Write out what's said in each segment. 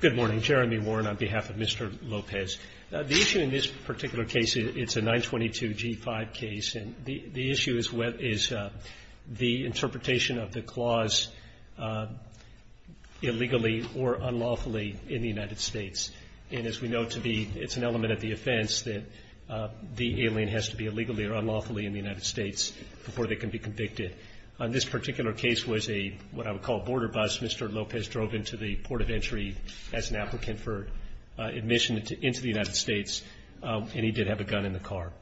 Good morning. Jeremy Warren on behalf of Mr. Lopez. The issue in this particular case, it's a 922 G5 case, and the issue is the interpretation of the clause illegally or unlawfully in the United States. And as we know, it's an element of the offense that the alien has to be illegally or unlawfully in the United States before they can be convicted. This particular case was a, what I would call, border bus. Mr. Lopez drove into the port of entry as an applicant for admission into the United States, and he did have a gun in the car.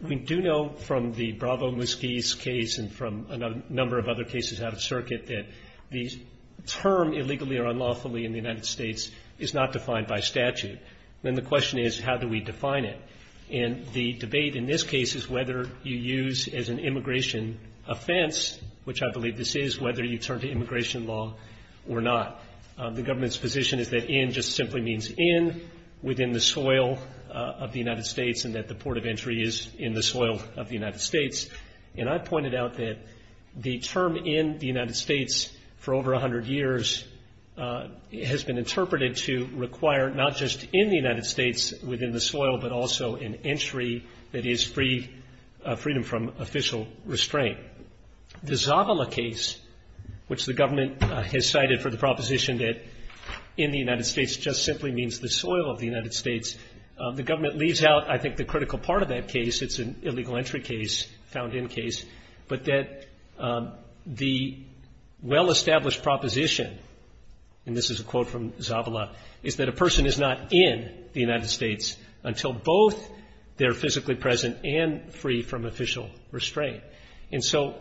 We do know from the Bravo-Muskies case and from a number of other cases out of circuit that the term illegally or unlawfully in the United States is not defined by statute. Then the question is, how do we define it? And the debate in this case is whether you use as an immigration offense, which I believe this is, whether you turn to immigration law or not. The government's position is that in just simply means in within the soil of the United States and that the port of entry is in the soil of the United States. And I pointed out that the term in the United States for over 100 years has been interpreted to require not just in the United States within the soil, but also an entry that is free, freedom from official restraint. The Zavala case, which the government has cited for the proposition that in the United States just simply means the soil of the United States, the government leaves out, I think, the critical part of that case. It's an illegal entry case, found in case, but that the well-established proposition, and this is a quote from Zavala, is that a person is not in the United States until both they're physically present and free from official restraint. And so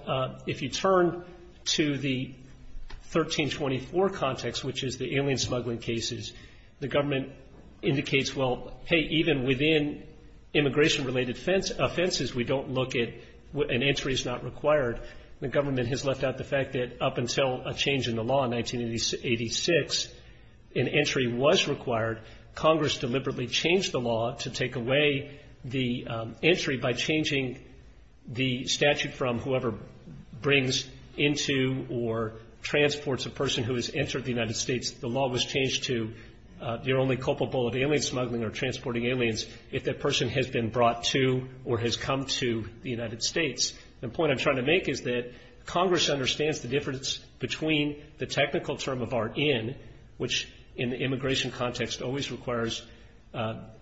if you turn to the 1324 context, which is the alien smuggling cases, the government indicates, well, hey, even within immigration-related offenses, we don't look at, an entry is not required. The government has left out the fact that up until a change in the law in 1986, an entry was required. Congress deliberately changed the law to take away the entry by changing the statute from whoever brings into or transports a person who has entered the United States. The law was changed to you're only culpable of alien smuggling or transporting aliens if that person has been brought to or has come to the United States. The point I'm trying to make is that Congress understands the difference between the technical term of our in, which in the immigration context always requires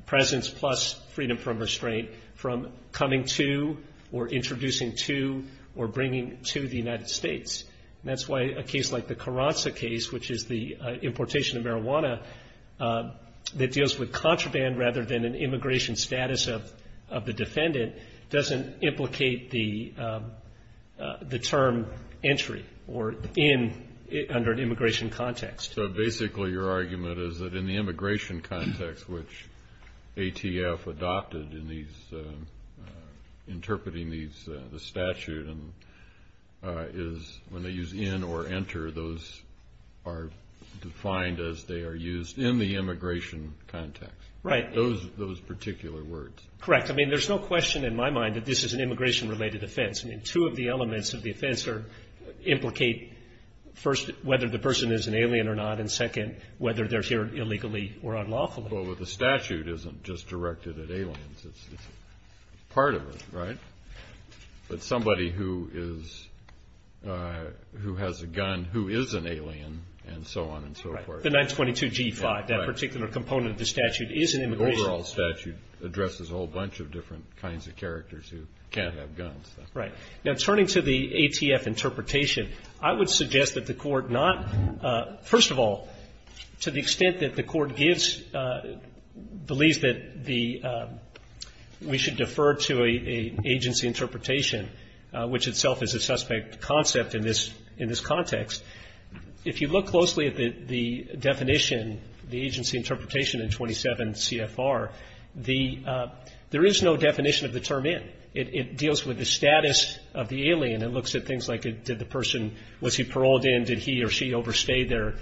presence plus freedom from restraint, from coming to or introducing to or bringing to the United States. And that's why a case like the Carranza case, which is the importation of marijuana that deals with contraband rather than an immigration status of the defendant, doesn't implicate the term entry or in, under an immigration context. So basically your argument is that in the immigration context, which ATF adopted in interpreting the statute, is when they use in or enter, those are defined as they are used in the immigration context. Right. Those particular words. Correct. I mean, there's no question in my mind that this is an immigration-related offense. I mean, two of the elements of the offense implicate, first, whether the person is an alien or not, and second, whether they're here illegally or unlawfully. Well, the statute isn't just directed at aliens. It's part of it, right? But somebody who has a gun who is an alien and so on and so forth. Right. The 922G5, that particular component of the statute is an immigration. The overall statute addresses a whole bunch of different kinds of characters who can't have guns. Right. Now, turning to the ATF interpretation, I would suggest that the Court not, first of all, to the extent that the Court gives, believes that the we should defer to an agency interpretation, which itself is a suspect concept in this context, if you look closely at the definition, the agency interpretation in 27 CFR, there is no definition of the term in. It deals with the status of the alien. It looks at things like did the person, was he paroled in, did he or she overstay their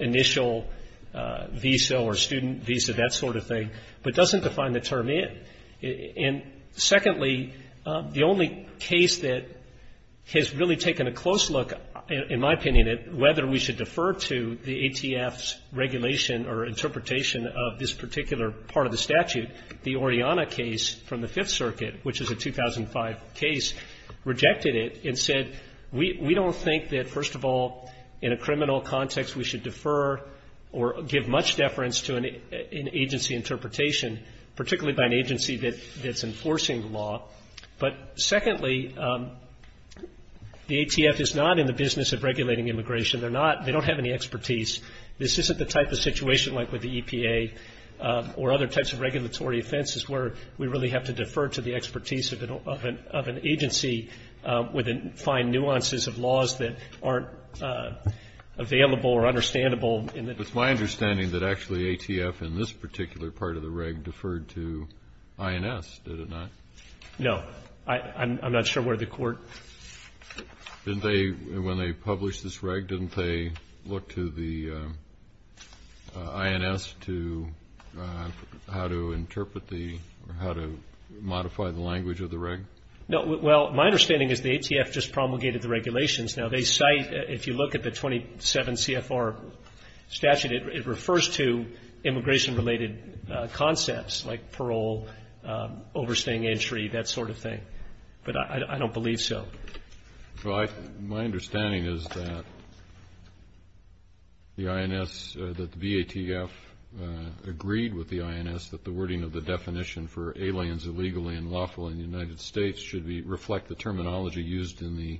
initial visa or student visa, that sort of thing, but doesn't define the term in. And secondly, the only case that has really taken a close look, in my opinion, at whether we should defer to the ATF's regulation or interpretation of this particular part of the statute, the Oriana case from the Fifth Circuit, which is a 2005 case, rejected it and said we don't think that, first of all, in a criminal context we should defer or give much deference to an agency interpretation, particularly by an agency that's enforcing the law. But secondly, the ATF is not in the business of regulating immigration. They're not they don't have any expertise. This isn't the type of situation like with the EPA or other types of regulatory offenses where we really have to defer to the expertise of an agency with the fine nuances of laws that aren't available or understandable. Kennedy. It's my understanding that actually ATF in this particular part of the reg deferred to INS, did it not? No. I'm not sure where the Court ---- Didn't they, when they published this reg, didn't they look to the INS to how to interpret the or how to modify the language of the reg? No. Well, my understanding is the ATF just promulgated the regulations. Now, they cite, if you look at the 27 CFR statute, it refers to immigration-related concepts like parole, overstaying entry, that sort of thing. But I don't believe so. My understanding is that the INS, that the VATF agreed with the INS that the wording of the definition for aliens illegally and lawful in the United States should reflect the terminology used in the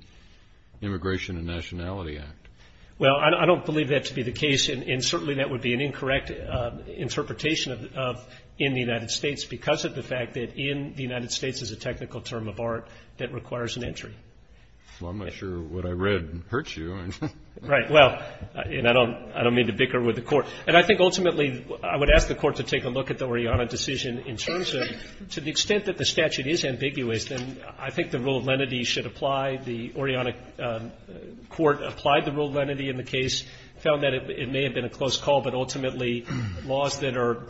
Immigration and Nationality Act. Well, I don't believe that to be the case, and certainly that would be an incorrect interpretation of in the United States because of the fact that in the United States is a technical term of art that requires an entry. Well, I'm not sure what I read hurts you. Right. Well, and I don't mean to bicker with the Court. And I think ultimately I would ask the Court to take a look at the Oriana decision in terms of to the extent that the statute is ambiguous, then I think the rule of lenity should apply. The Oriana Court applied the rule of lenity in the case, found that it may have been a close call, but ultimately laws that are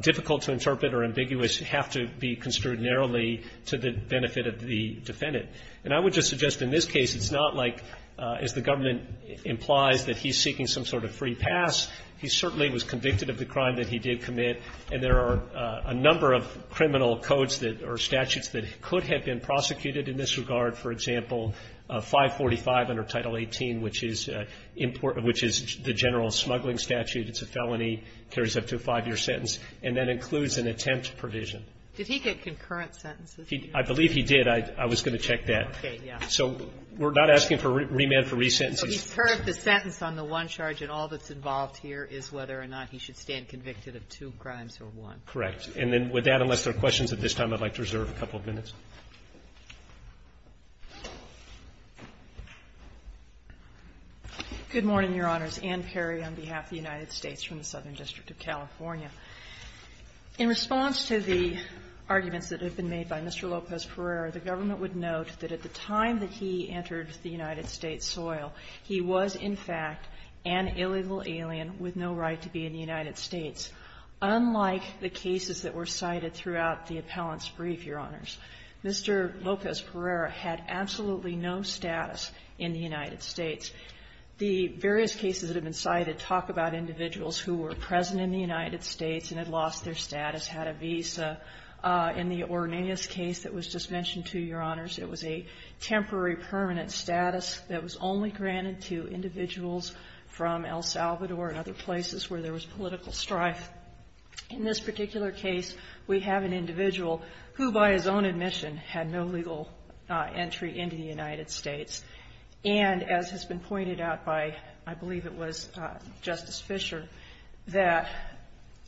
difficult to interpret or ambiguous have to be construed narrowly to the benefit of the defendant. And I would just suggest in this case it's not like as the government implies that he's seeking some sort of free pass. He certainly was convicted of the crime that he did commit, and there are a number of criminal codes that are statutes that could have been prosecuted in this regard, for example, 545 under Title 18, which is the general smuggling statute, it's a felony, carries up to a five-year sentence, and that includes an attempt provision. Did he get concurrent sentences? I believe he did. I was going to check that. Okay. Yeah. So we're not asking for remand for resentences. But he served the sentence on the one charge, and all that's involved here is whether or not he should stand convicted of two crimes or one. Correct. And then with that, unless there are questions at this time, I'd like to reserve a couple of minutes. Good morning, Your Honors. Ann Perry on behalf of the United States from the Southern District of California. In response to the arguments that have been made by Mr. Lopez-Pereira, the government would note that at the time that he entered the United States soil, he was in fact an illegal alien with no right to be in the United States, unlike the cases that were cited throughout the appellant's brief, Your Honors. Mr. Lopez-Pereira had absolutely no status in the United States. The various cases that have been cited talk about individuals who were present in the United States and had lost their status, had a visa. In the Orneas case that was just mentioned to you, Your Honors, it was a temporary permanent status that was only granted to individuals from El Salvador and other places where there was political strife. In this particular case, we have an individual who, by his own admission, had no legal entry into the United States. And as has been pointed out by, I believe it was Justice Fischer, that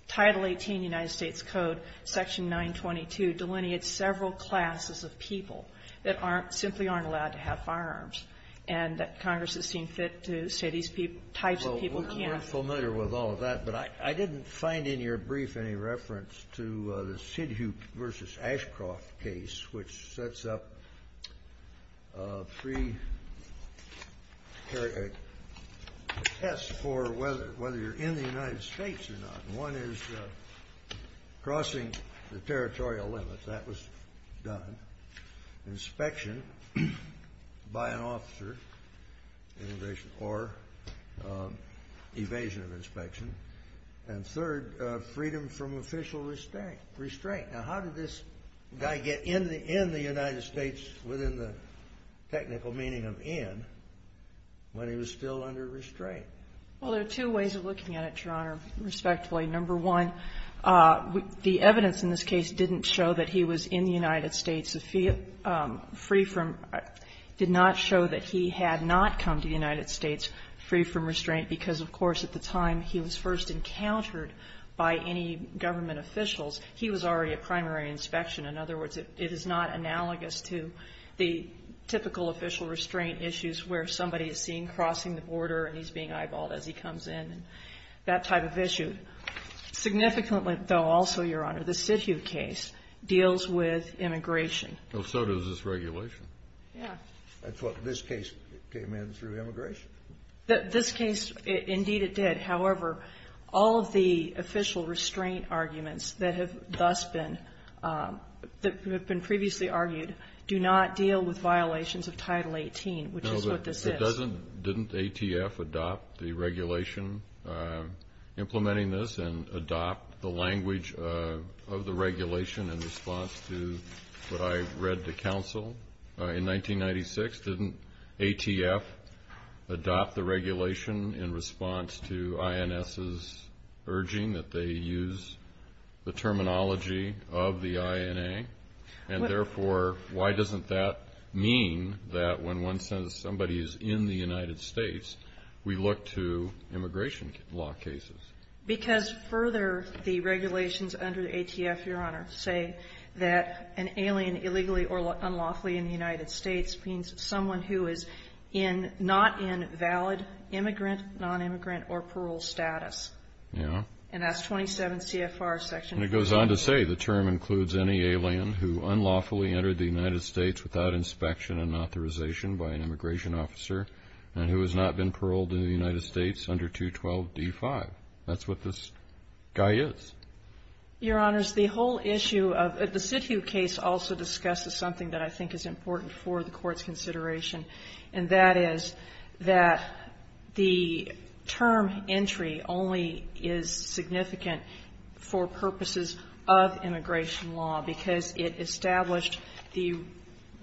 Title 18 United States Code, Section 922, delineates several classes of people that aren't — simply aren't allowed to have firearms, and that Congress has seen fit to say these types of people can't. I'm not familiar with all of that, but I didn't find in your brief any reference to the Sidhu v. Ashcroft case, which sets up three tests for whether you're in the United States or not. One is crossing the territorial limits. That was done. Inspection by an officer or evasion of inspection. And third, freedom from official restraint. Now, how did this guy get in the United States within the technical meaning of in when he was still under restraint? Well, there are two ways of looking at it, Your Honor, respectfully. Number one, the evidence in this case didn't show that he was in the United States free from — did not show that he had not come to the United States free from restraint, because, of course, at the time he was first encountered by any government officials, he was already a primary inspection. In other words, it is not analogous to the typical official restraint issues where somebody is seen crossing the border and he's being eyeballed as he comes in, that type of issue. Significantly, though, also, Your Honor, the Sidhu case deals with immigration. Well, so does this regulation. Yeah. I thought this case came in through immigration. This case, indeed it did. However, all of the official restraint arguments that have thus been — that have been previously argued do not deal with violations of Title 18, which is what this is. Didn't ATF adopt the regulation implementing this and adopt the language of the regulation in response to what I read to counsel in 1996? Didn't ATF adopt the regulation in response to INS's urging that they use the terminology of the INA? And therefore, why doesn't that mean that when one says somebody is in the United States, we look to immigration law cases? Because further, the regulations under the ATF, Your Honor, say that an alien illegally or unlawfully in the United States means someone who is in — not in valid immigrant, nonimmigrant, or parole status. Yeah. And that's 27 CFR section. And it goes on to say the term includes any alien who unlawfully entered the United States without inspection and authorization by an immigration officer and who has not been paroled in the United States under 212 D-5. That's what this guy is. Your Honors, the whole issue of — the Sidhu case also discusses something that I think is important for the Court's consideration, and that is that the term entry only is significant for purposes of immigration law because it established the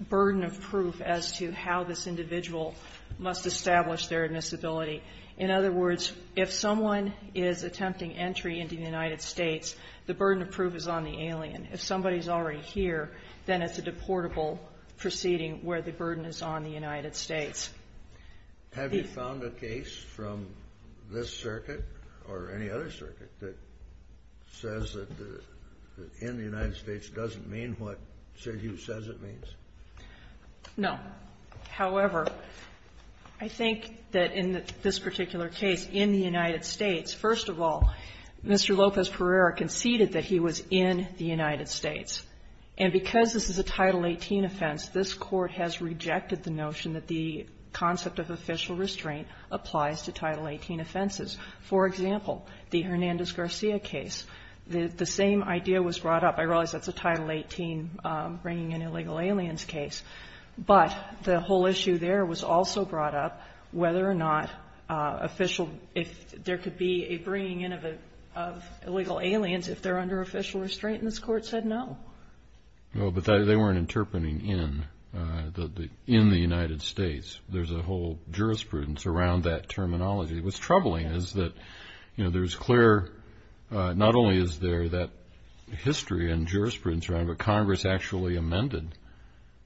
burden of proof as to how this individual must establish their admissibility. In other words, if someone is attempting entry into the United States, the burden of proof is on the alien. If somebody is already here, then it's a deportable proceeding where the burden is on the United States. Have you found a case from this circuit or any other circuit that says that in the United States doesn't mean what Sidhu says it means? No. However, I think that in this particular case, in the United States, first of all, Mr. Lopez-Pereira conceded that he was in the United States. And because this is a Title 18 offense, this Court has rejected the notion that the concept of official restraint applies to Title 18 offenses. For example, the Hernandez-Garcia case. The same idea was brought up. I realize that's a Title 18 bringing in illegal aliens case. But the whole issue there was also brought up whether or not official — if there could be a bringing in of illegal aliens if they're under official restraint, and this Court said no. No, but they weren't interpreting in the United States. There's a whole jurisprudence around that terminology. What's troubling is that, you know, there's clear — not only is there that history and jurisprudence around it, but Congress actually amended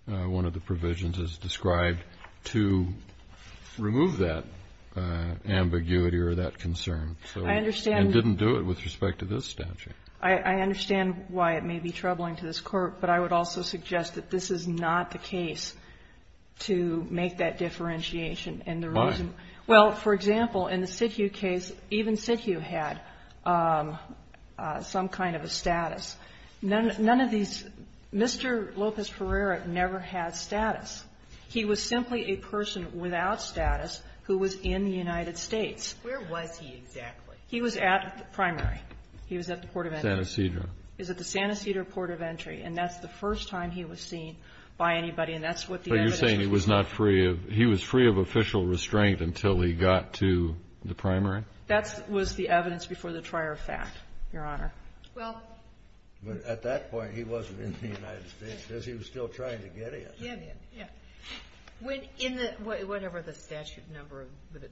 one of the provisions as described to remove that ambiguity or that concern. I understand. And didn't do it with respect to this statute. I understand why it may be troubling to this Court. But I would also suggest that this is not the case to make that differentiation and the reason. Why? Well, for example, in the Sithu case, even Sithu had some kind of a status. None of these — Mr. Lopez-Ferreira never had status. He was simply a person without status who was in the United States. Where was he exactly? He was at the primary. He was at the port of entry. San Ysidro. He was at the San Ysidro port of entry. And that's the first time he was seen by anybody, and that's what the evidence was. But you're saying he was not free of — he was free of official restraint until he got to the primary? That was the evidence before the trier of fact, Your Honor. Well — But at that point, he wasn't in the United States because he was still trying to get in. Yeah, yeah, yeah. In the — whatever the statute number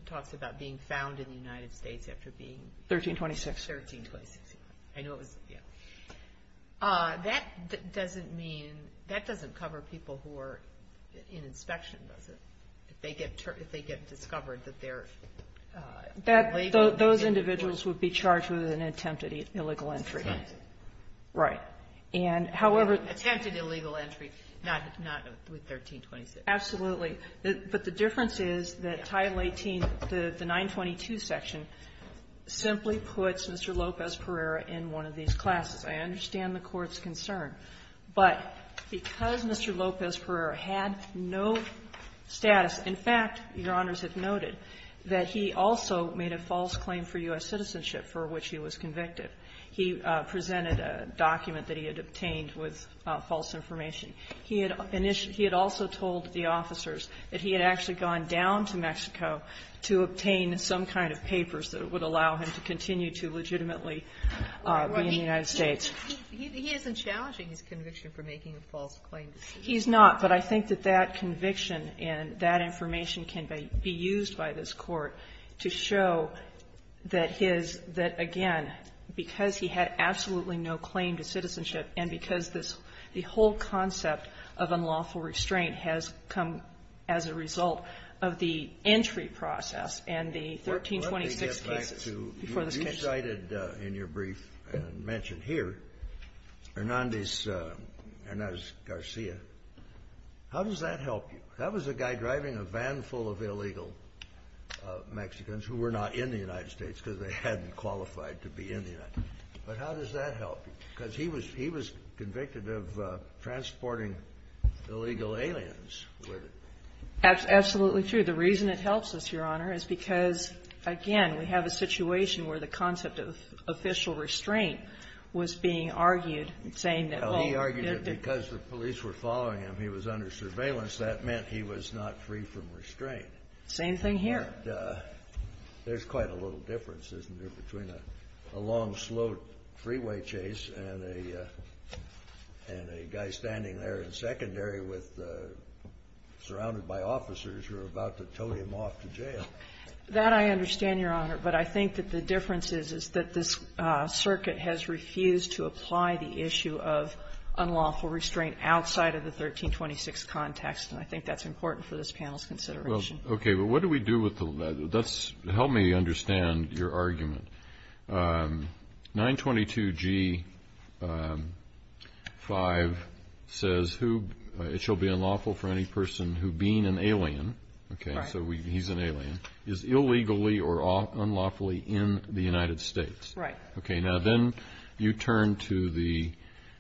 talks about being found in the United States after being — 1326. I know it was — yeah. That doesn't mean — that doesn't cover people who are in inspection, does it? If they get — if they get discovered that they're — That — those individuals would be charged with an attempted illegal entry. Right. And however — Attempted illegal entry, not with 1326. Absolutely. But the difference is that Title 18, the 922 section, simply puts Mr. Lopez-Perera in one of these classes. I understand the Court's concern. But because Mr. Lopez-Perera had no status — in fact, Your Honors have noted that he also made a false claim for U.S. citizenship for which he was convicted. He presented a document that he had obtained with false information. He had — he had also told the officers that he had actually gone down to Mexico to obtain some kind of papers that would allow him to continue to legitimately be in the United States. He isn't challenging his conviction for making a false claim. He's not. But I think that that conviction and that information can be used by this Court to show that his — that, again, because he had absolutely no claim to citizenship and because this — the whole concept of unlawful restraint has come as a result of the entry process and the 1326 cases before this case. Let me get back to — you cited in your brief and mentioned here Hernández Garcia. How does that help you? That was a guy driving a van full of illegal Mexicans who were not in the United States But how does that help? Because he was — he was convicted of transporting illegal aliens with it. Absolutely true. The reason it helps us, Your Honor, is because, again, we have a situation where the concept of official restraint was being argued, saying that — Well, he argued that because the police were following him, he was under surveillance. That meant he was not free from restraint. Same thing here. But there's quite a little difference, isn't there, between a long, slow freeway chase and a guy standing there in secondary with — surrounded by officers who are about to tow him off to jail? That I understand, Your Honor. But I think that the difference is, is that this circuit has refused to apply the issue of unlawful restraint outside of the 1326 context, and I think that's important for this panel's consideration. Well, okay, but what do we do with the — that's — help me understand your argument. 922G5 says who — it shall be unlawful for any person who, being an alien — Right. Okay, so he's an alien — is illegally or unlawfully in the United States. Right. Okay, now then you turn to the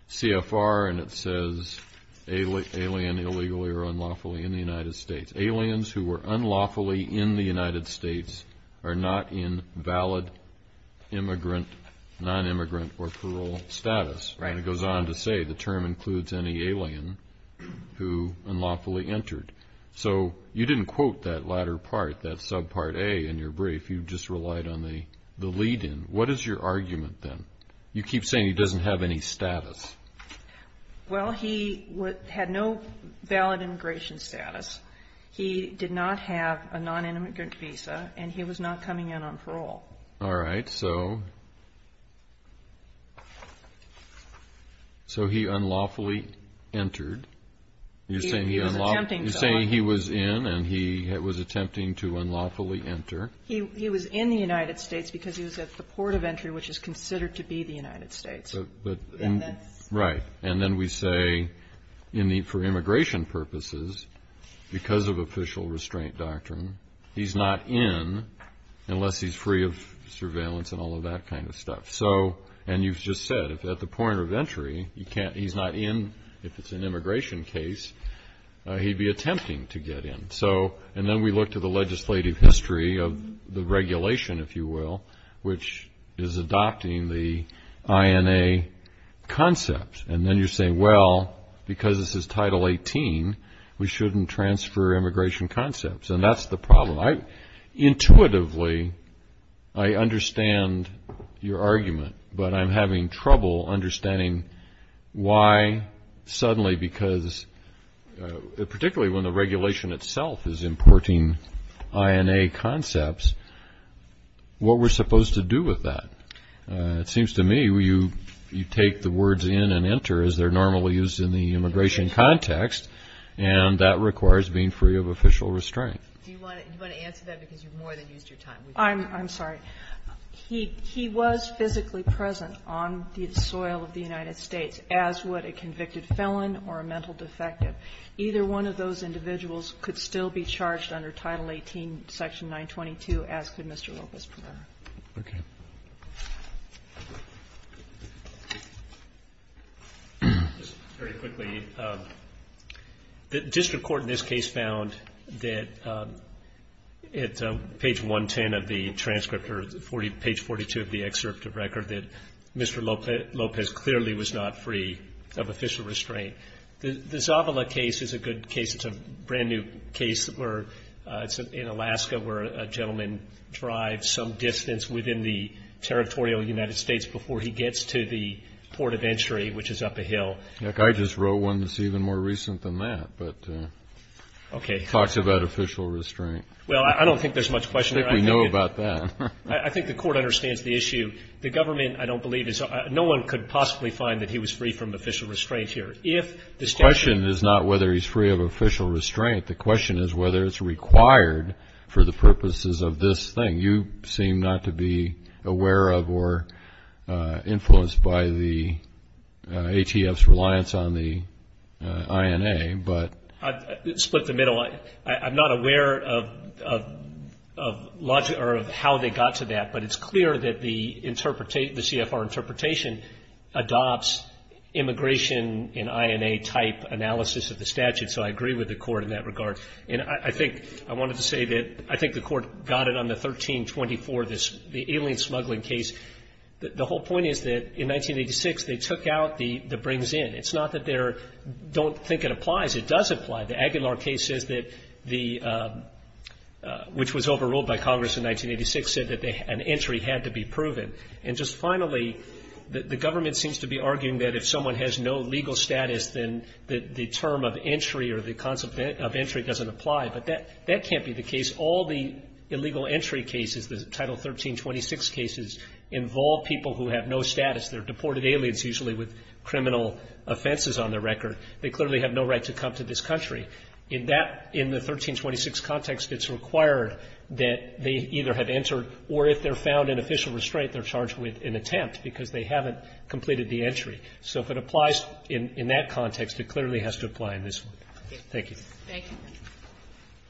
CFR, and it says alien illegally or unlawfully in the United States. Aliens who were unlawfully in the United States are not in valid immigrant, non-immigrant, or parole status. Right. And it goes on to say the term includes any alien who unlawfully entered. So you didn't quote that latter part, that subpart A in your brief. You just relied on the lead-in. What is your argument then? You keep saying he doesn't have any status. Well, he had no valid immigration status. He did not have a non-immigrant visa, and he was not coming in on parole. All right, so he unlawfully entered. You're saying he was in, and he was attempting to unlawfully enter. He was in the United States because he was at the port of entry, which is considered to be the United States. Right. And then we say for immigration purposes, because of official restraint doctrine, he's not in unless he's free of surveillance and all of that kind of stuff. And you've just said at the point of entry, he's not in if it's an immigration case. He'd be attempting to get in. And then we look to the legislative history of the regulation, if you will, which is adopting the INA concept. And then you say, well, because this is Title 18, we shouldn't transfer immigration concepts. And that's the problem. Intuitively, I understand your argument, but I'm having trouble understanding why suddenly because, particularly when the regulation itself is importing INA concepts, what we're supposed to do with that. It seems to me you take the words in and enter, as they're normally used in the immigration context, and that requires being free of official restraint. Do you want to answer that because you've more than used your time? I'm sorry. He was physically present on the soil of the United States, as would a convicted felon or a mental defective. Either one of those individuals could still be charged under Title 18, Section 922, as could Mr. Lopez prefer. Okay. Just very quickly, the district court in this case found that at page 110 of the transcript or page 42 of the excerpt of record that Mr. Lopez clearly was not free of official restraint. The Zavala case is a good case. It's a brand-new case where it's in Alaska where a gentleman drives some distance within the territorial United States before he gets to the port of entry, which is up a hill. Look, I just wrote one that's even more recent than that, but talks about official restraint. Well, I don't think there's much question there. I think we know about that. I think the court understands the issue. The government, I don't believe, no one could possibly find that he was free from official restraint here. The question is not whether he's free of official restraint. The question is whether it's required for the purposes of this thing. You seem not to be aware of or influenced by the ATF's reliance on the INA. Split the middle. Well, I'm not aware of how they got to that, but it's clear that the CFR interpretation adopts immigration and INA type analysis of the statute, so I agree with the court in that regard. And I think I wanted to say that I think the court got it on the 1324, the alien smuggling case. The whole point is that in 1986 they took out the brings in. It's not that they don't think it applies. It does apply. The Aguilar case says that the, which was overruled by Congress in 1986, said that an entry had to be proven. And just finally, the government seems to be arguing that if someone has no legal status, then the term of entry or the concept of entry doesn't apply. But that can't be the case. All the illegal entry cases, the Title 1326 cases, involve people who have no status. They're deported aliens usually with criminal offenses on their record. They clearly have no right to come to this country. In that, in the 1326 context, it's required that they either have entered or if they're found in official restraint, they're charged with an attempt because they haven't completed the entry. So if it applies in that context, it clearly has to apply in this one. Thank you. Thank you.